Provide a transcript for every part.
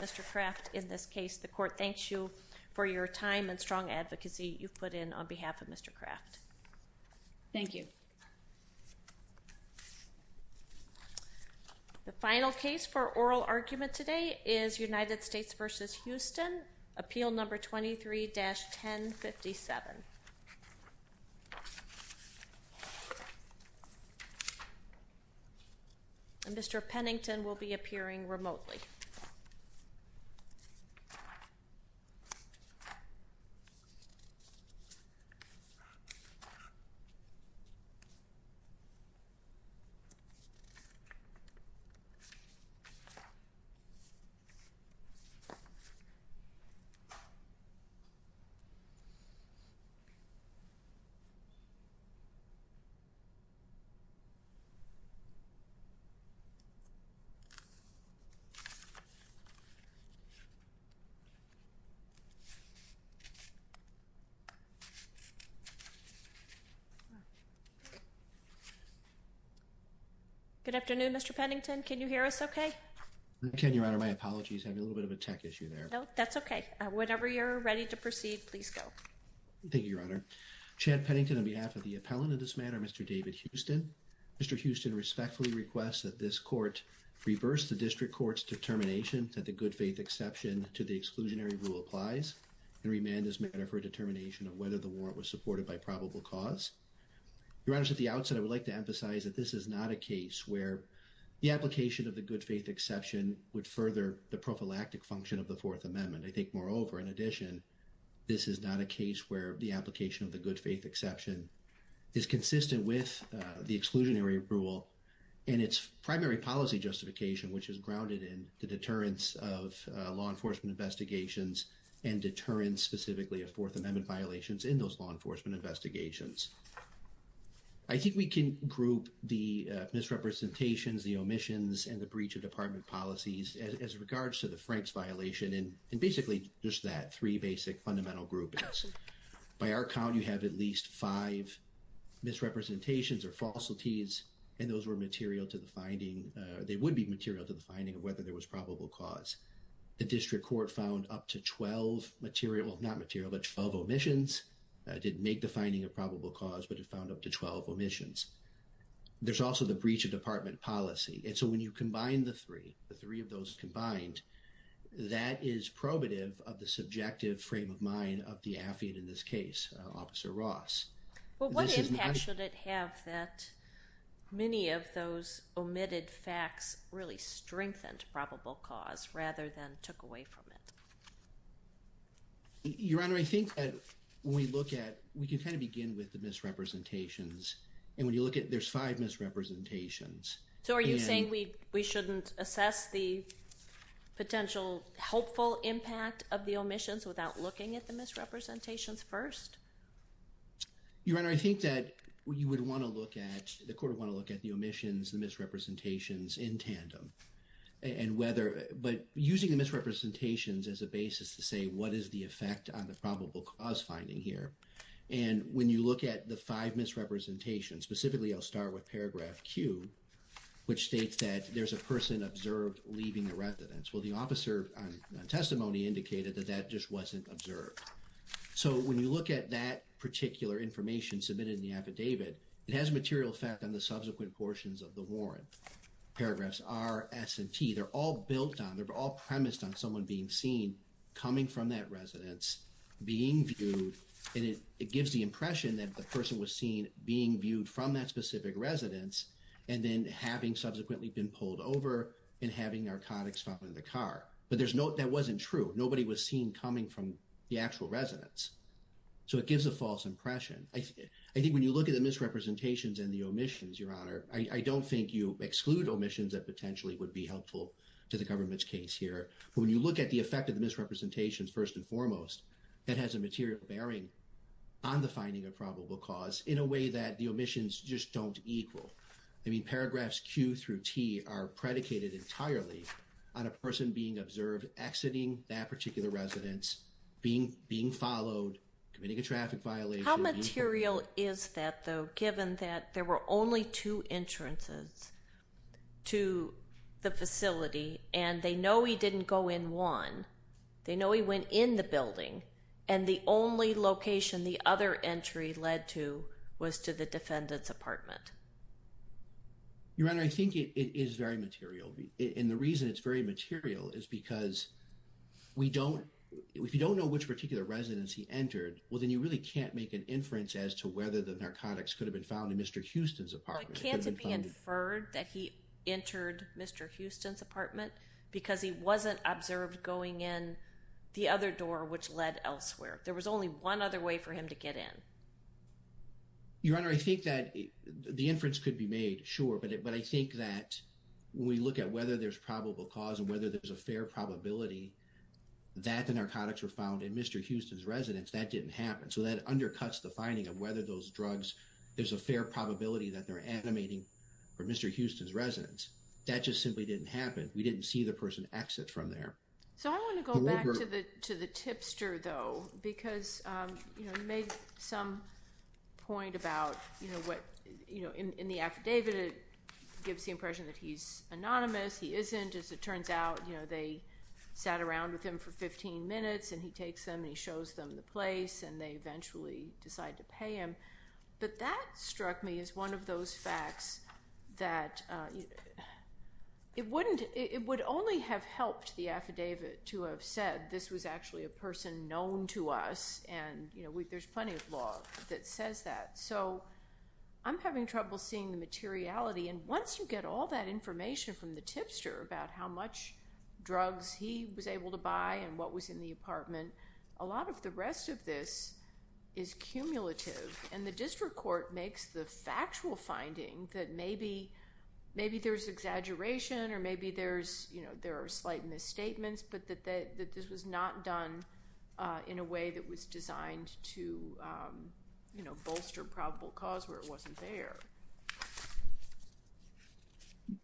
Mr. Kraft in this case. The court thanks you for your time and strong advocacy you've put in on behalf of Mr. Kraft. The final case for oral argument today is United States v. Huston, appeal number 23-1057. Mr. Pennington will be appearing remotely. Good afternoon, Mr. Pennington. Can you hear us okay? I can, Your Honor. My apologies. I have a little bit of a tech issue there. No, that's okay. Whenever you're ready to proceed, please go. Thank you, Your Honor. Chad Pennington on behalf of the appellant in this matter, Mr. David Huston. Mr. Huston respectfully requests that this court reverse the district court's determination that the good faith exception to the exclusionary rule applies and remand this matter for a determination of whether the warrant was supported by probable cause. Your Honor, at the outset, I would like to emphasize that this is not a case where the application of the good faith exception would further the prophylactic function of the Fourth Amendment. I think, moreover, in addition, this is not a case where the application of the good faith exception is consistent with the exclusionary rule and its primary policy justification, which is grounded in the deterrence of law enforcement investigations and deterrence specifically of Fourth Amendment violations in those law enforcement investigations. I think we can group the misrepresentations, the omissions, and the breach of department policies as regards to the Franks violation and basically just that three basic fundamental groupings. By our count, you have at least five misrepresentations or falsities, and those were material to the finding. They would be material to the finding of whether there was probable cause. The district court found up to 12 material, not material, but 12 omissions. It didn't make the finding a probable cause, but it found up to 12 omissions. There's also the breach of department policy. When you combine the three, the three of those combined, that is probative of the subjective frame of mind of the affid in this case, Officer Ross. What impact should it have that many of those omitted facts really strengthened probable cause rather than took away from it? Your Honor, I think that when we look at, we can kind of begin with the misrepresentations. When you look at, there's five misrepresentations. So are you saying we shouldn't assess the potential helpful impact of the omissions without looking at the misrepresentations first? Your Honor, I think that you would want to look at, the court would want to look at the omissions, the misrepresentations in tandem. And whether, but using the misrepresentations as a basis to say what is the effect on the probable cause finding here. And when you look at the five misrepresentations, specifically, I'll start with paragraph Q, which states that there's a person observed leaving the residence. Well, the officer on testimony indicated that that just wasn't observed. So when you look at that particular information submitted in the affidavit, it has a material effect on the subsequent portions of the warrant. Paragraphs R, S, and T, they're all built on, they're all premised on someone being seen coming from that residence, being viewed. And it gives the impression that the person was seen being viewed from that specific residence. And then having subsequently been pulled over and having narcotics found in the car. But there's no, that wasn't true. Nobody was seen coming from the actual residence. So it gives a false impression. I think when you look at the misrepresentations and the omissions, Your Honor, I don't think you exclude omissions that potentially would be helpful to the government's case here. But when you look at the effect of the misrepresentations, first and foremost, it has a material bearing on the finding of probable cause in a way that the omissions just don't equal. I mean, paragraphs Q through T are predicated entirely on a person being observed exiting that particular residence, being followed, committing a traffic violation. How material is that, though, given that there were only two entrances to the facility, and they know he didn't go in one. They know he went in the building, and the only location the other entry led to was to the defendant's apartment. Your Honor, I think it is very material. And the reason it's very material is because we don't, if you don't know which particular residence he entered, well, then you really can't make an inference as to whether the narcotics could have been found in Mr. Houston's apartment. It can't be inferred that he entered Mr. Houston's apartment because he wasn't observed going in the other door, which led elsewhere. There was only one other way for him to get in. Your Honor, I think that the inference could be made, sure, but I think that when we look at whether there's probable cause and whether there's a fair probability that the narcotics were found in Mr. Houston's residence, that didn't happen. So that undercuts the finding of whether those drugs, there's a fair probability that they're animating for Mr. Houston's residence. That just simply didn't happen. We didn't see the person exit from there. So I want to go back to the tipster, though, because, you know, you made some point about, you know, what, you know, in the affidavit, it gives the impression that he's anonymous. He isn't. As it turns out, you know, they sat around with him for 15 minutes and he takes them and he shows them the place and they eventually decide to pay him. But that struck me as one of those facts that it wouldn't, it would only have helped the affidavit to have said this was actually a person known to us and, you know, there's plenty of law that says that. So I'm having trouble seeing the materiality. And once you get all that information from the tipster about how much drugs he was able to buy and what was in the apartment, a lot of the rest of this is cumulative. And the district court makes the factual finding that maybe, maybe there's exaggeration or maybe there's, you know, there are slight misstatements, but that this was not done in a way that was designed to, you know, bolster probable cause where it wasn't there.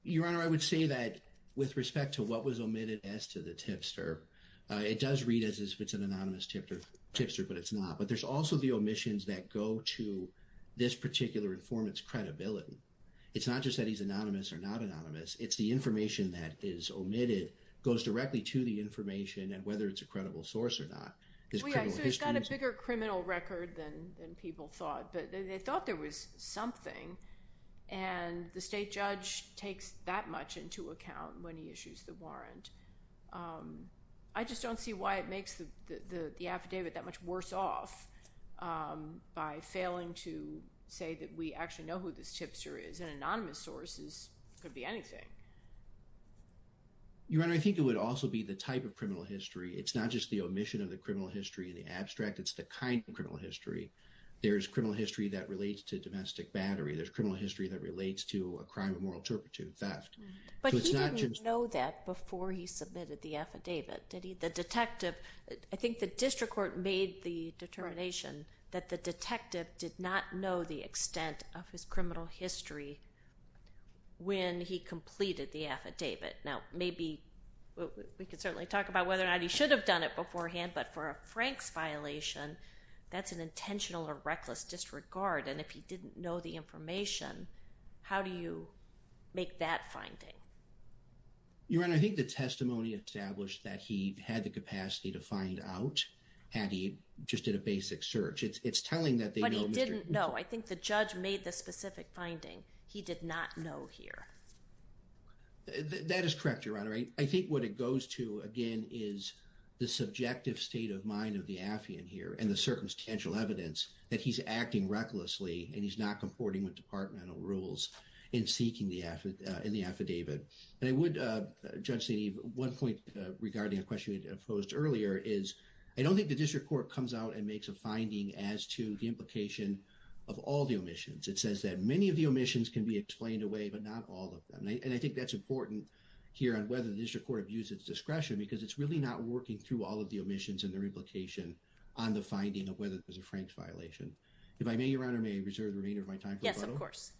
Your Honor, I would say that with respect to what was omitted as to the tipster, it does read as if it's an anonymous tipster, but it's not. But there's also the omissions that go to this particular informant's credibility. It's not just that he's anonymous or not anonymous. It's the information that is omitted goes directly to the information and whether it's a credible source or not. He's got a bigger criminal record than people thought, but they thought there was something. And the state judge takes that much into account when he issues the warrant. I just don't see why it makes the affidavit that much worse off by failing to say that we actually know who this tipster is. An anonymous source could be anything. Your Honor, I think it would also be the type of criminal history. It's not just the omission of the criminal history, the abstract. It's the kind of criminal history. There's criminal history that relates to domestic battery. There's criminal history that relates to a crime of moral turpitude, theft. But he didn't know that before he submitted the affidavit, did he? The detective, I think the district court made the determination that the detective did not know the extent of his criminal history when he completed the affidavit. Now, maybe we could certainly talk about whether or not he should have done it beforehand. But for a Frank's violation, that's an intentional or reckless disregard. And if he didn't know the information, how do you make that finding? Your Honor, I think the testimony established that he had the capacity to find out had he just did a basic search. It's telling that they know. But he didn't know. I think the judge made the specific finding. He did not know here. That is correct, Your Honor. I think what it goes to, again, is the subjective state of mind of the affiant here and the circumstantial evidence that he's acting recklessly. And he's not comporting with departmental rules in seeking the effort in the affidavit. And I would judge the one point regarding a question posed earlier is I don't think the district court comes out and makes a finding as to the implication of all the omissions. It says that many of the omissions can be explained away, but not all of them. And I think that's important here on whether the district court views its discretion because it's really not working through all of the omissions and their implication on the finding of whether it was a Frank's violation. If I may, Your Honor, may I reserve the remainder of my time? Yes, of course.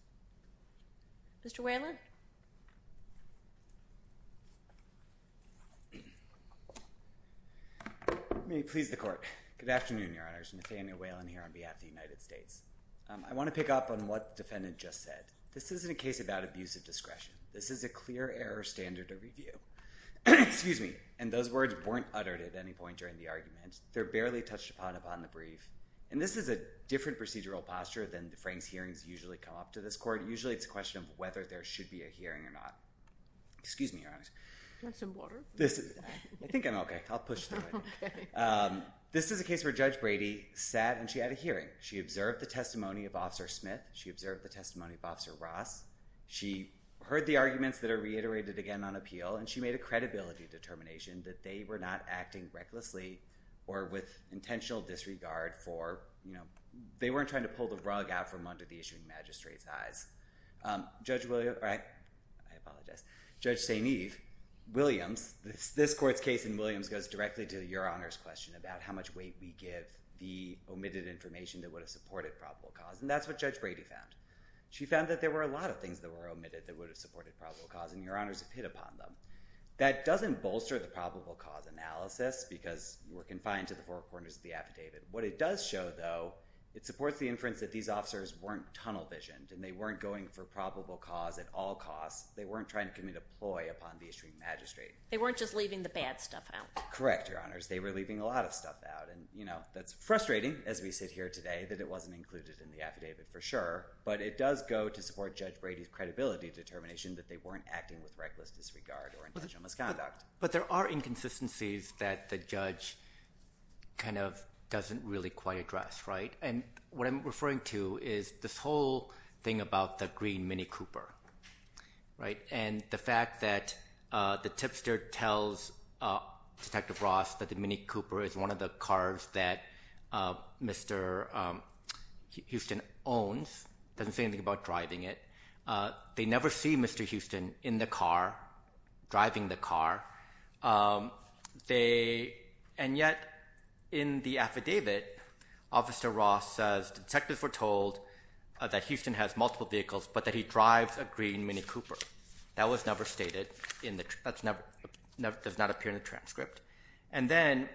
Mr. Whalen? May it please the Court. Good afternoon, Your Honors. Nathaniel Whalen here on behalf of the United States. I want to pick up on what the defendant just said. This isn't a case about abusive discretion. This is a clear error standard of review. And those words weren't uttered at any point during the argument. They're barely touched upon upon the brief. And this is a different procedural posture than the Frank's hearings usually come up to this court. Usually it's a question of whether there should be a hearing or not. Excuse me, Your Honors. Do you want some water? I think I'm okay. I'll push through it. This is a case where Judge Brady sat and she had a hearing. She observed the testimony of Officer Smith. She observed the testimony of Officer Ross. She heard the arguments that are reiterated again on appeal. And she made a credibility determination that they were not acting recklessly or with intentional disregard for, you know, they weren't trying to pull the rug out from under the issuing magistrate's eyes. Judge Williams, this court's case in Williams goes directly to your Honor's question about how much weight we give the omitted information that would have supported probable cause. And that's what Judge Brady found. She found that there were a lot of things that were omitted that would have supported probable cause. And, Your Honors, it hit upon them. That doesn't bolster the probable cause analysis because we're confined to the four corners of the affidavit. What it does show, though, it supports the inference that these officers weren't tunnel visioned and they weren't going for probable cause at all costs. They weren't trying to commit a ploy upon the issuing magistrate. They weren't just leaving the bad stuff out. Correct, Your Honors. They were leaving a lot of stuff out. And, you know, that's frustrating as we sit here today that it wasn't included in the affidavit for sure. But it does go to support Judge Brady's credibility determination that they weren't acting with reckless disregard or intentional misconduct. But there are inconsistencies that the judge kind of doesn't really quite address, right? And what I'm referring to is this whole thing about the green Mini Cooper, right? And the fact that the tipster tells Detective Ross that the Mini Cooper is one of the cars that Mr. Houston owns, doesn't say anything about driving it. They never see Mr. Houston in the car, driving the car. And yet in the affidavit, Officer Ross says, Detectives were told that Houston has multiple vehicles but that he drives a green Mini Cooper. That was never stated. That does not appear in the transcript. And then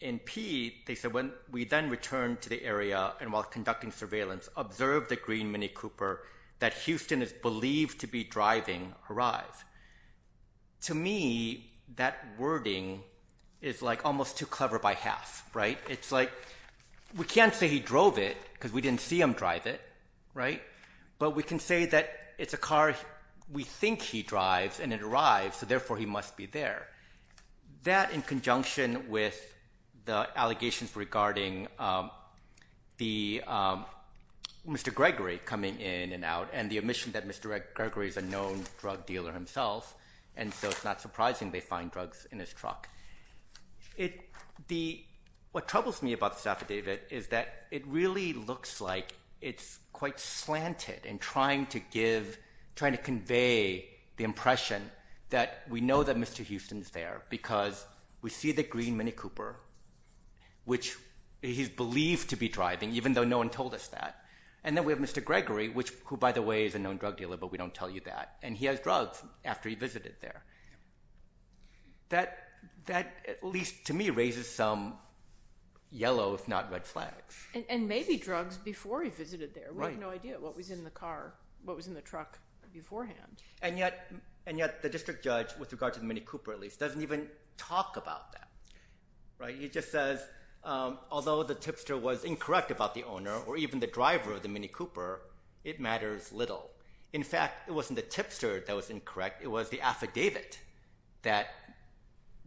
in P, they said, We then returned to the area and while conducting surveillance observed the green Mini Cooper that Houston is believed to be driving arrive. To me, that wording is like almost too clever by half, right? It's like we can't say he drove it because we didn't see him drive it, right? But we can say that it's a car we think he drives and it arrives, so therefore he must be there. That in conjunction with the allegations regarding Mr. Gregory coming in and out and the admission that Mr. Gregory is a known drug dealer himself. And so it's not surprising they find drugs in his truck. What troubles me about the affidavit is that it really looks like it's quite slanted in trying to give, trying to convey the impression that we know that Mr. Houston is there because we see the green Mini Cooper, which he's believed to be driving, even though no one told us that. And then we have Mr. Gregory, which, who, by the way, is a known drug dealer, but we don't tell you that. And he has drugs after he visited there. That, at least to me, raises some yellow, if not red flags. And maybe drugs before he visited there. We have no idea what was in the car, what was in the truck beforehand. And yet the district judge, with regard to the Mini Cooper at least, doesn't even talk about that, right? He just says, although the tipster was incorrect about the owner or even the driver of the Mini Cooper, it matters little. In fact, it wasn't the tipster that was incorrect. It was the affidavit that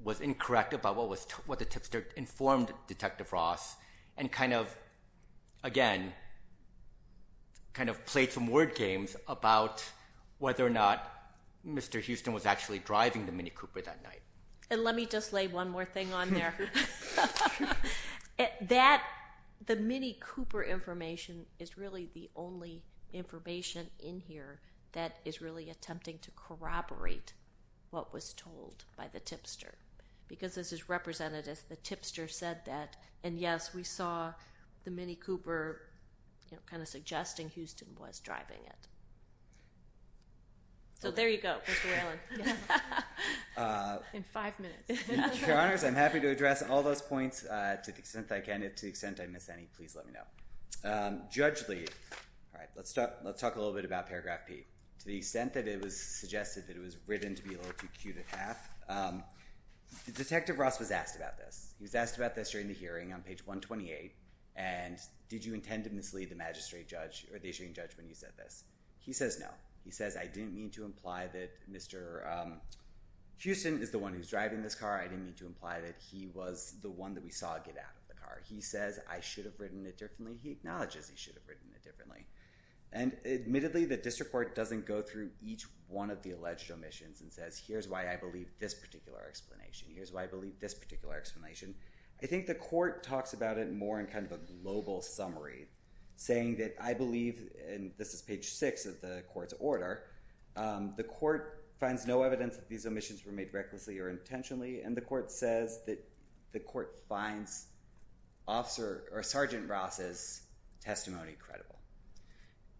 was incorrect about what the tipster informed Detective Ross and kind of, again, kind of played some word games about whether or not Mr. Houston was actually driving the Mini Cooper that night. And let me just lay one more thing on there. That, the Mini Cooper information is really the only information in here that is really attempting to corroborate what was told by the tipster. Because this is represented as the tipster said that. And, yes, we saw the Mini Cooper kind of suggesting Houston was driving it. So there you go, Mr. Allen. In five minutes. Your Honors, I'm happy to address all those points to the extent I can. And to the extent I miss any, please let me know. Judge Lee. All right. Let's talk a little bit about paragraph P. To the extent that it was suggested that it was written to be a little too cute at half, Detective Ross was asked about this. He was asked about this during the hearing on page 128. And did you intend to mislead the magistrate judge or the issuing judge when you said this? He says no. He says I didn't mean to imply that Mr. Houston is the one who's driving this car. I didn't mean to imply that he was the one that we saw get out of the car. He says I should have written it differently. He acknowledges he should have written it differently. And admittedly, the district court doesn't go through each one of the alleged omissions and says here's why I believe this particular explanation. Here's why I believe this particular explanation. I think the court talks about it more in kind of a global summary, saying that I believe, and this is page 6 of the court's order, the court finds no evidence that these omissions were made recklessly or intentionally. And the court says that the court finds Sergeant Ross's testimony credible.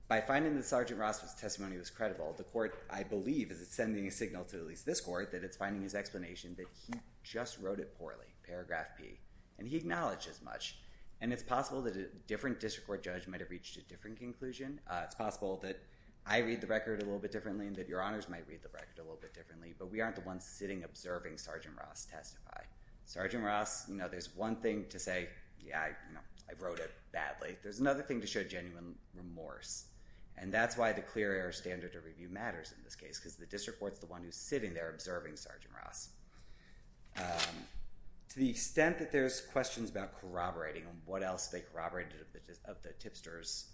By finding that Sergeant Ross's testimony was credible, the court, I believe, is sending a signal to at least this court that it's finding his explanation that he just wrote it poorly. Paragraph P. And he acknowledges much. And it's possible that a different district court judge might have reached a different conclusion. It's possible that I read the record a little bit differently and that your honors might read the record a little bit differently, but we aren't the ones sitting observing Sergeant Ross testify. Sergeant Ross, you know, there's one thing to say, yeah, I wrote it badly. There's another thing to show genuine remorse. And that's why the clear error standard of review matters in this case because the district court's the one who's sitting there observing Sergeant Ross. To the extent that there's questions about corroborating and what else they corroborated of the tipster's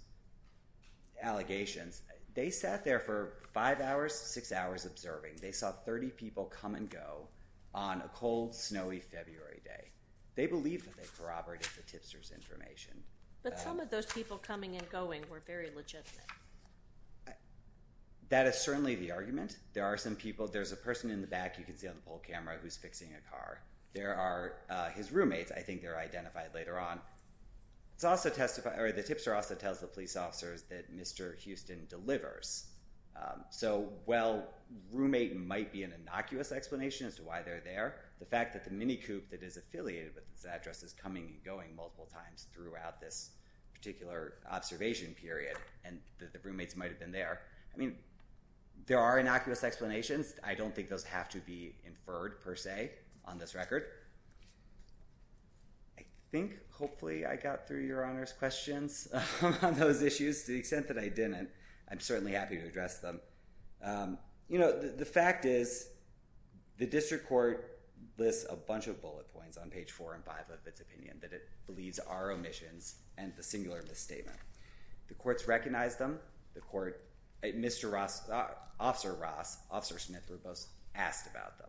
allegations, they sat there for five hours, six hours observing. They saw 30 people come and go on a cold, snowy February day. They believed that they corroborated the tipster's information. But some of those people coming and going were very legitimate. That is certainly the argument. There are some people. There's a person in the back you can see on the pole camera who's fixing a car. There are his roommates. I think they're identified later on. The tipster also tells the police officers that Mr. Houston delivers. So while roommate might be an innocuous explanation as to why they're there, the fact that the minicoup that is affiliated with this address is coming and going multiple times throughout this particular observation period and that the roommates might have been there, I mean, there are innocuous explanations. I don't think those have to be inferred per se on this record. I think hopefully I got through Your Honor's questions on those issues. To the extent that I didn't, I'm certainly happy to address them. You know, the fact is the district court lists a bunch of bullet points on page 4 and 5 of its opinion that it believes are omissions and the singular misstatement. The courts recognized them. The court, Mr. Ross, Officer Ross, Officer Smith were both asked about them.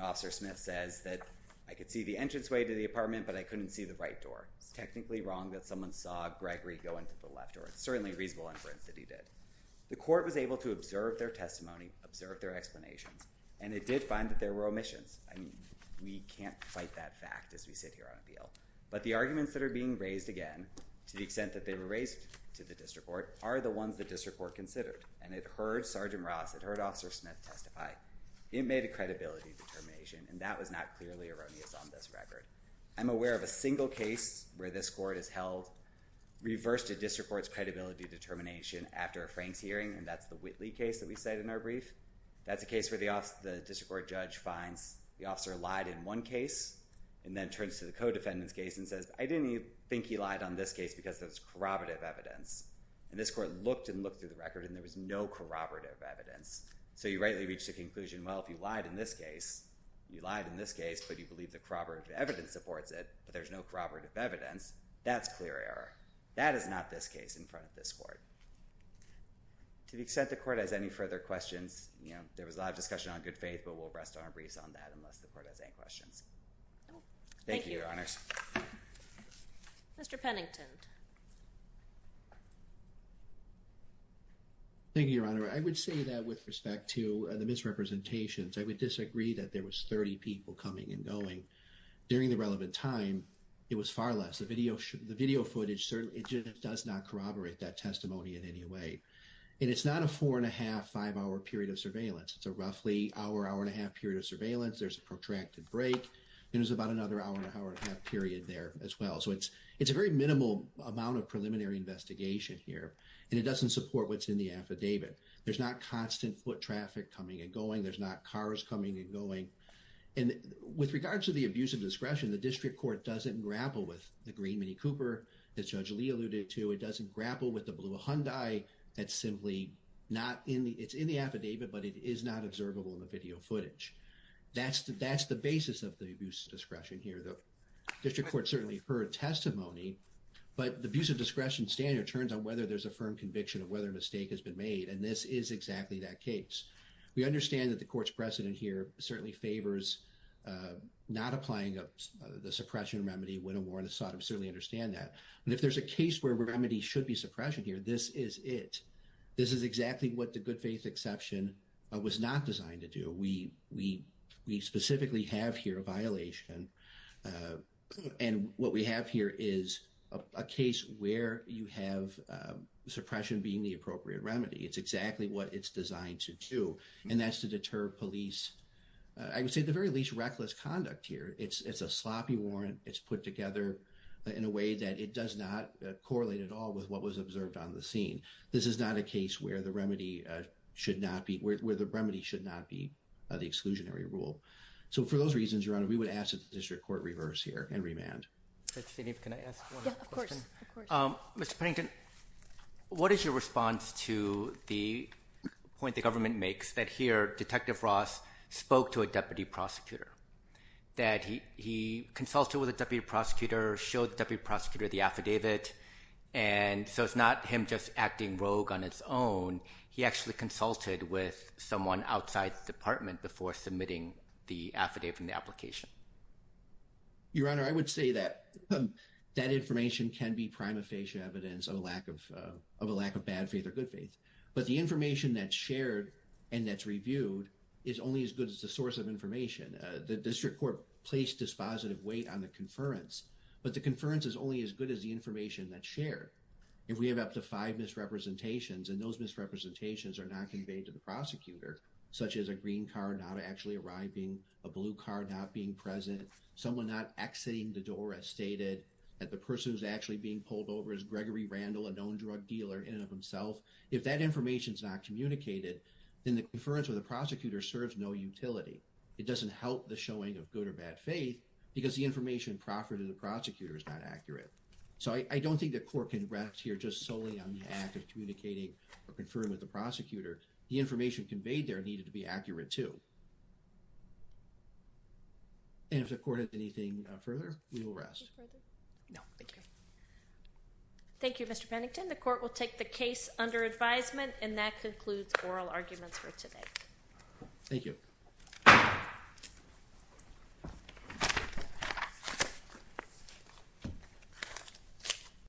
Officer Smith says that I could see the entranceway to the apartment, but I couldn't see the right door. It's technically wrong that someone saw Gregory go into the left door. It's certainly a reasonable inference that he did. The court was able to observe their testimony, observe their explanations, and it did find that there were omissions. I mean, we can't fight that fact as we sit here on appeal. But the arguments that are being raised again, to the extent that they were raised to the district court, are the ones the district court considered. And it heard Sergeant Ross, it heard Officer Smith testify. It made a credibility determination, and that was not clearly erroneous on this record. I'm aware of a single case where this court has held reverse to district court's credibility determination after a Franks hearing, and that's the Whitley case that we cite in our brief. That's a case where the district court judge finds the officer lied in one case and then turns to the co-defendant's case and says, I didn't think he lied on this case because there was corroborative evidence. And this court looked and looked through the record, and there was no corroborative evidence. So you rightly reach the conclusion, well, if you lied in this case, you lied in this case, but you believe the corroborative evidence supports it, but there's no corroborative evidence, that's clear error. That is not this case in front of this court. To the extent the court has any further questions, you know, there was a lot of discussion on good faith, but we'll rest our briefs on that unless the court has any questions. Thank you, Your Honors. Mr. Pennington. Thank you, Your Honor. I would say that with respect to the misrepresentations, I would disagree that there was 30 people coming and going. During the relevant time, it was far less. The video footage certainly does not corroborate that testimony in any way. And it's not a four and a half, five hour period of surveillance. It's a roughly hour, hour and a half period of surveillance. There's a protracted break. There's about another hour, hour and a half period there as well. So it's a very minimal amount of preliminary investigation here. And it doesn't support what's in the affidavit. There's not constant foot traffic coming and going. There's not cars coming and going. And with regards to the abuse of discretion, the district court doesn't grapple with the green Minnie Cooper that Judge Lee alluded to. It doesn't grapple with the blue Hyundai that's simply not in the, it's in the affidavit, but it is not observable in the video footage. That's the basis of the abuse of discretion here. The district court certainly heard testimony, but the abuse of discretion standard turns on whether there's a firm conviction of whether a mistake has been made. And this is exactly that case. We understand that the court's precedent here certainly favors not applying the suppression remedy when a warrant is sought. I certainly understand that. And if there's a case where remedy should be suppression here, this is it. This is exactly what the good faith exception was not designed to do. We specifically have here a violation. And what we have here is a case where you have suppression being the appropriate remedy. It's exactly what it's designed to do. And that's to deter police. I would say the very least reckless conduct here. It's a sloppy warrant. It's put together in a way that it does not correlate at all with what was observed on the scene. This is not a case where the remedy should not be the exclusionary rule. So for those reasons, Your Honor, we would ask that the district court reverse here and remand. Mr. Pennington, what is your response to the point the government makes that here Detective Ross spoke to a deputy prosecutor? That he consulted with a deputy prosecutor, showed the deputy prosecutor the affidavit. And so it's not him just acting rogue on its own. He actually consulted with someone outside the department before submitting the affidavit and the application. Your Honor, I would say that that information can be prima facie evidence of a lack of bad faith or good faith. But the information that's shared and that's reviewed is only as good as the source of information. The district court placed dispositive weight on the conference, but the conference is only as good as the information that's shared. If we have up to five misrepresentations and those misrepresentations are not conveyed to the prosecutor, such as a green card not actually arriving, a blue card not being present, someone not exiting the door as stated, that the person who's actually being pulled over is Gregory Randall, a known drug dealer in and of himself. If that information is not communicated, then the conference with the prosecutor serves no utility. It doesn't help the showing of good or bad faith because the information proffered to the prosecutor is not accurate. So I don't think the court can rest here just solely on the act of communicating or conferring with the prosecutor. The information conveyed there needed to be accurate too. And if the court has anything further, we will rest. Thank you, Mr. Pennington. The court will take the case under advisement and that concludes oral arguments for today. Thank you.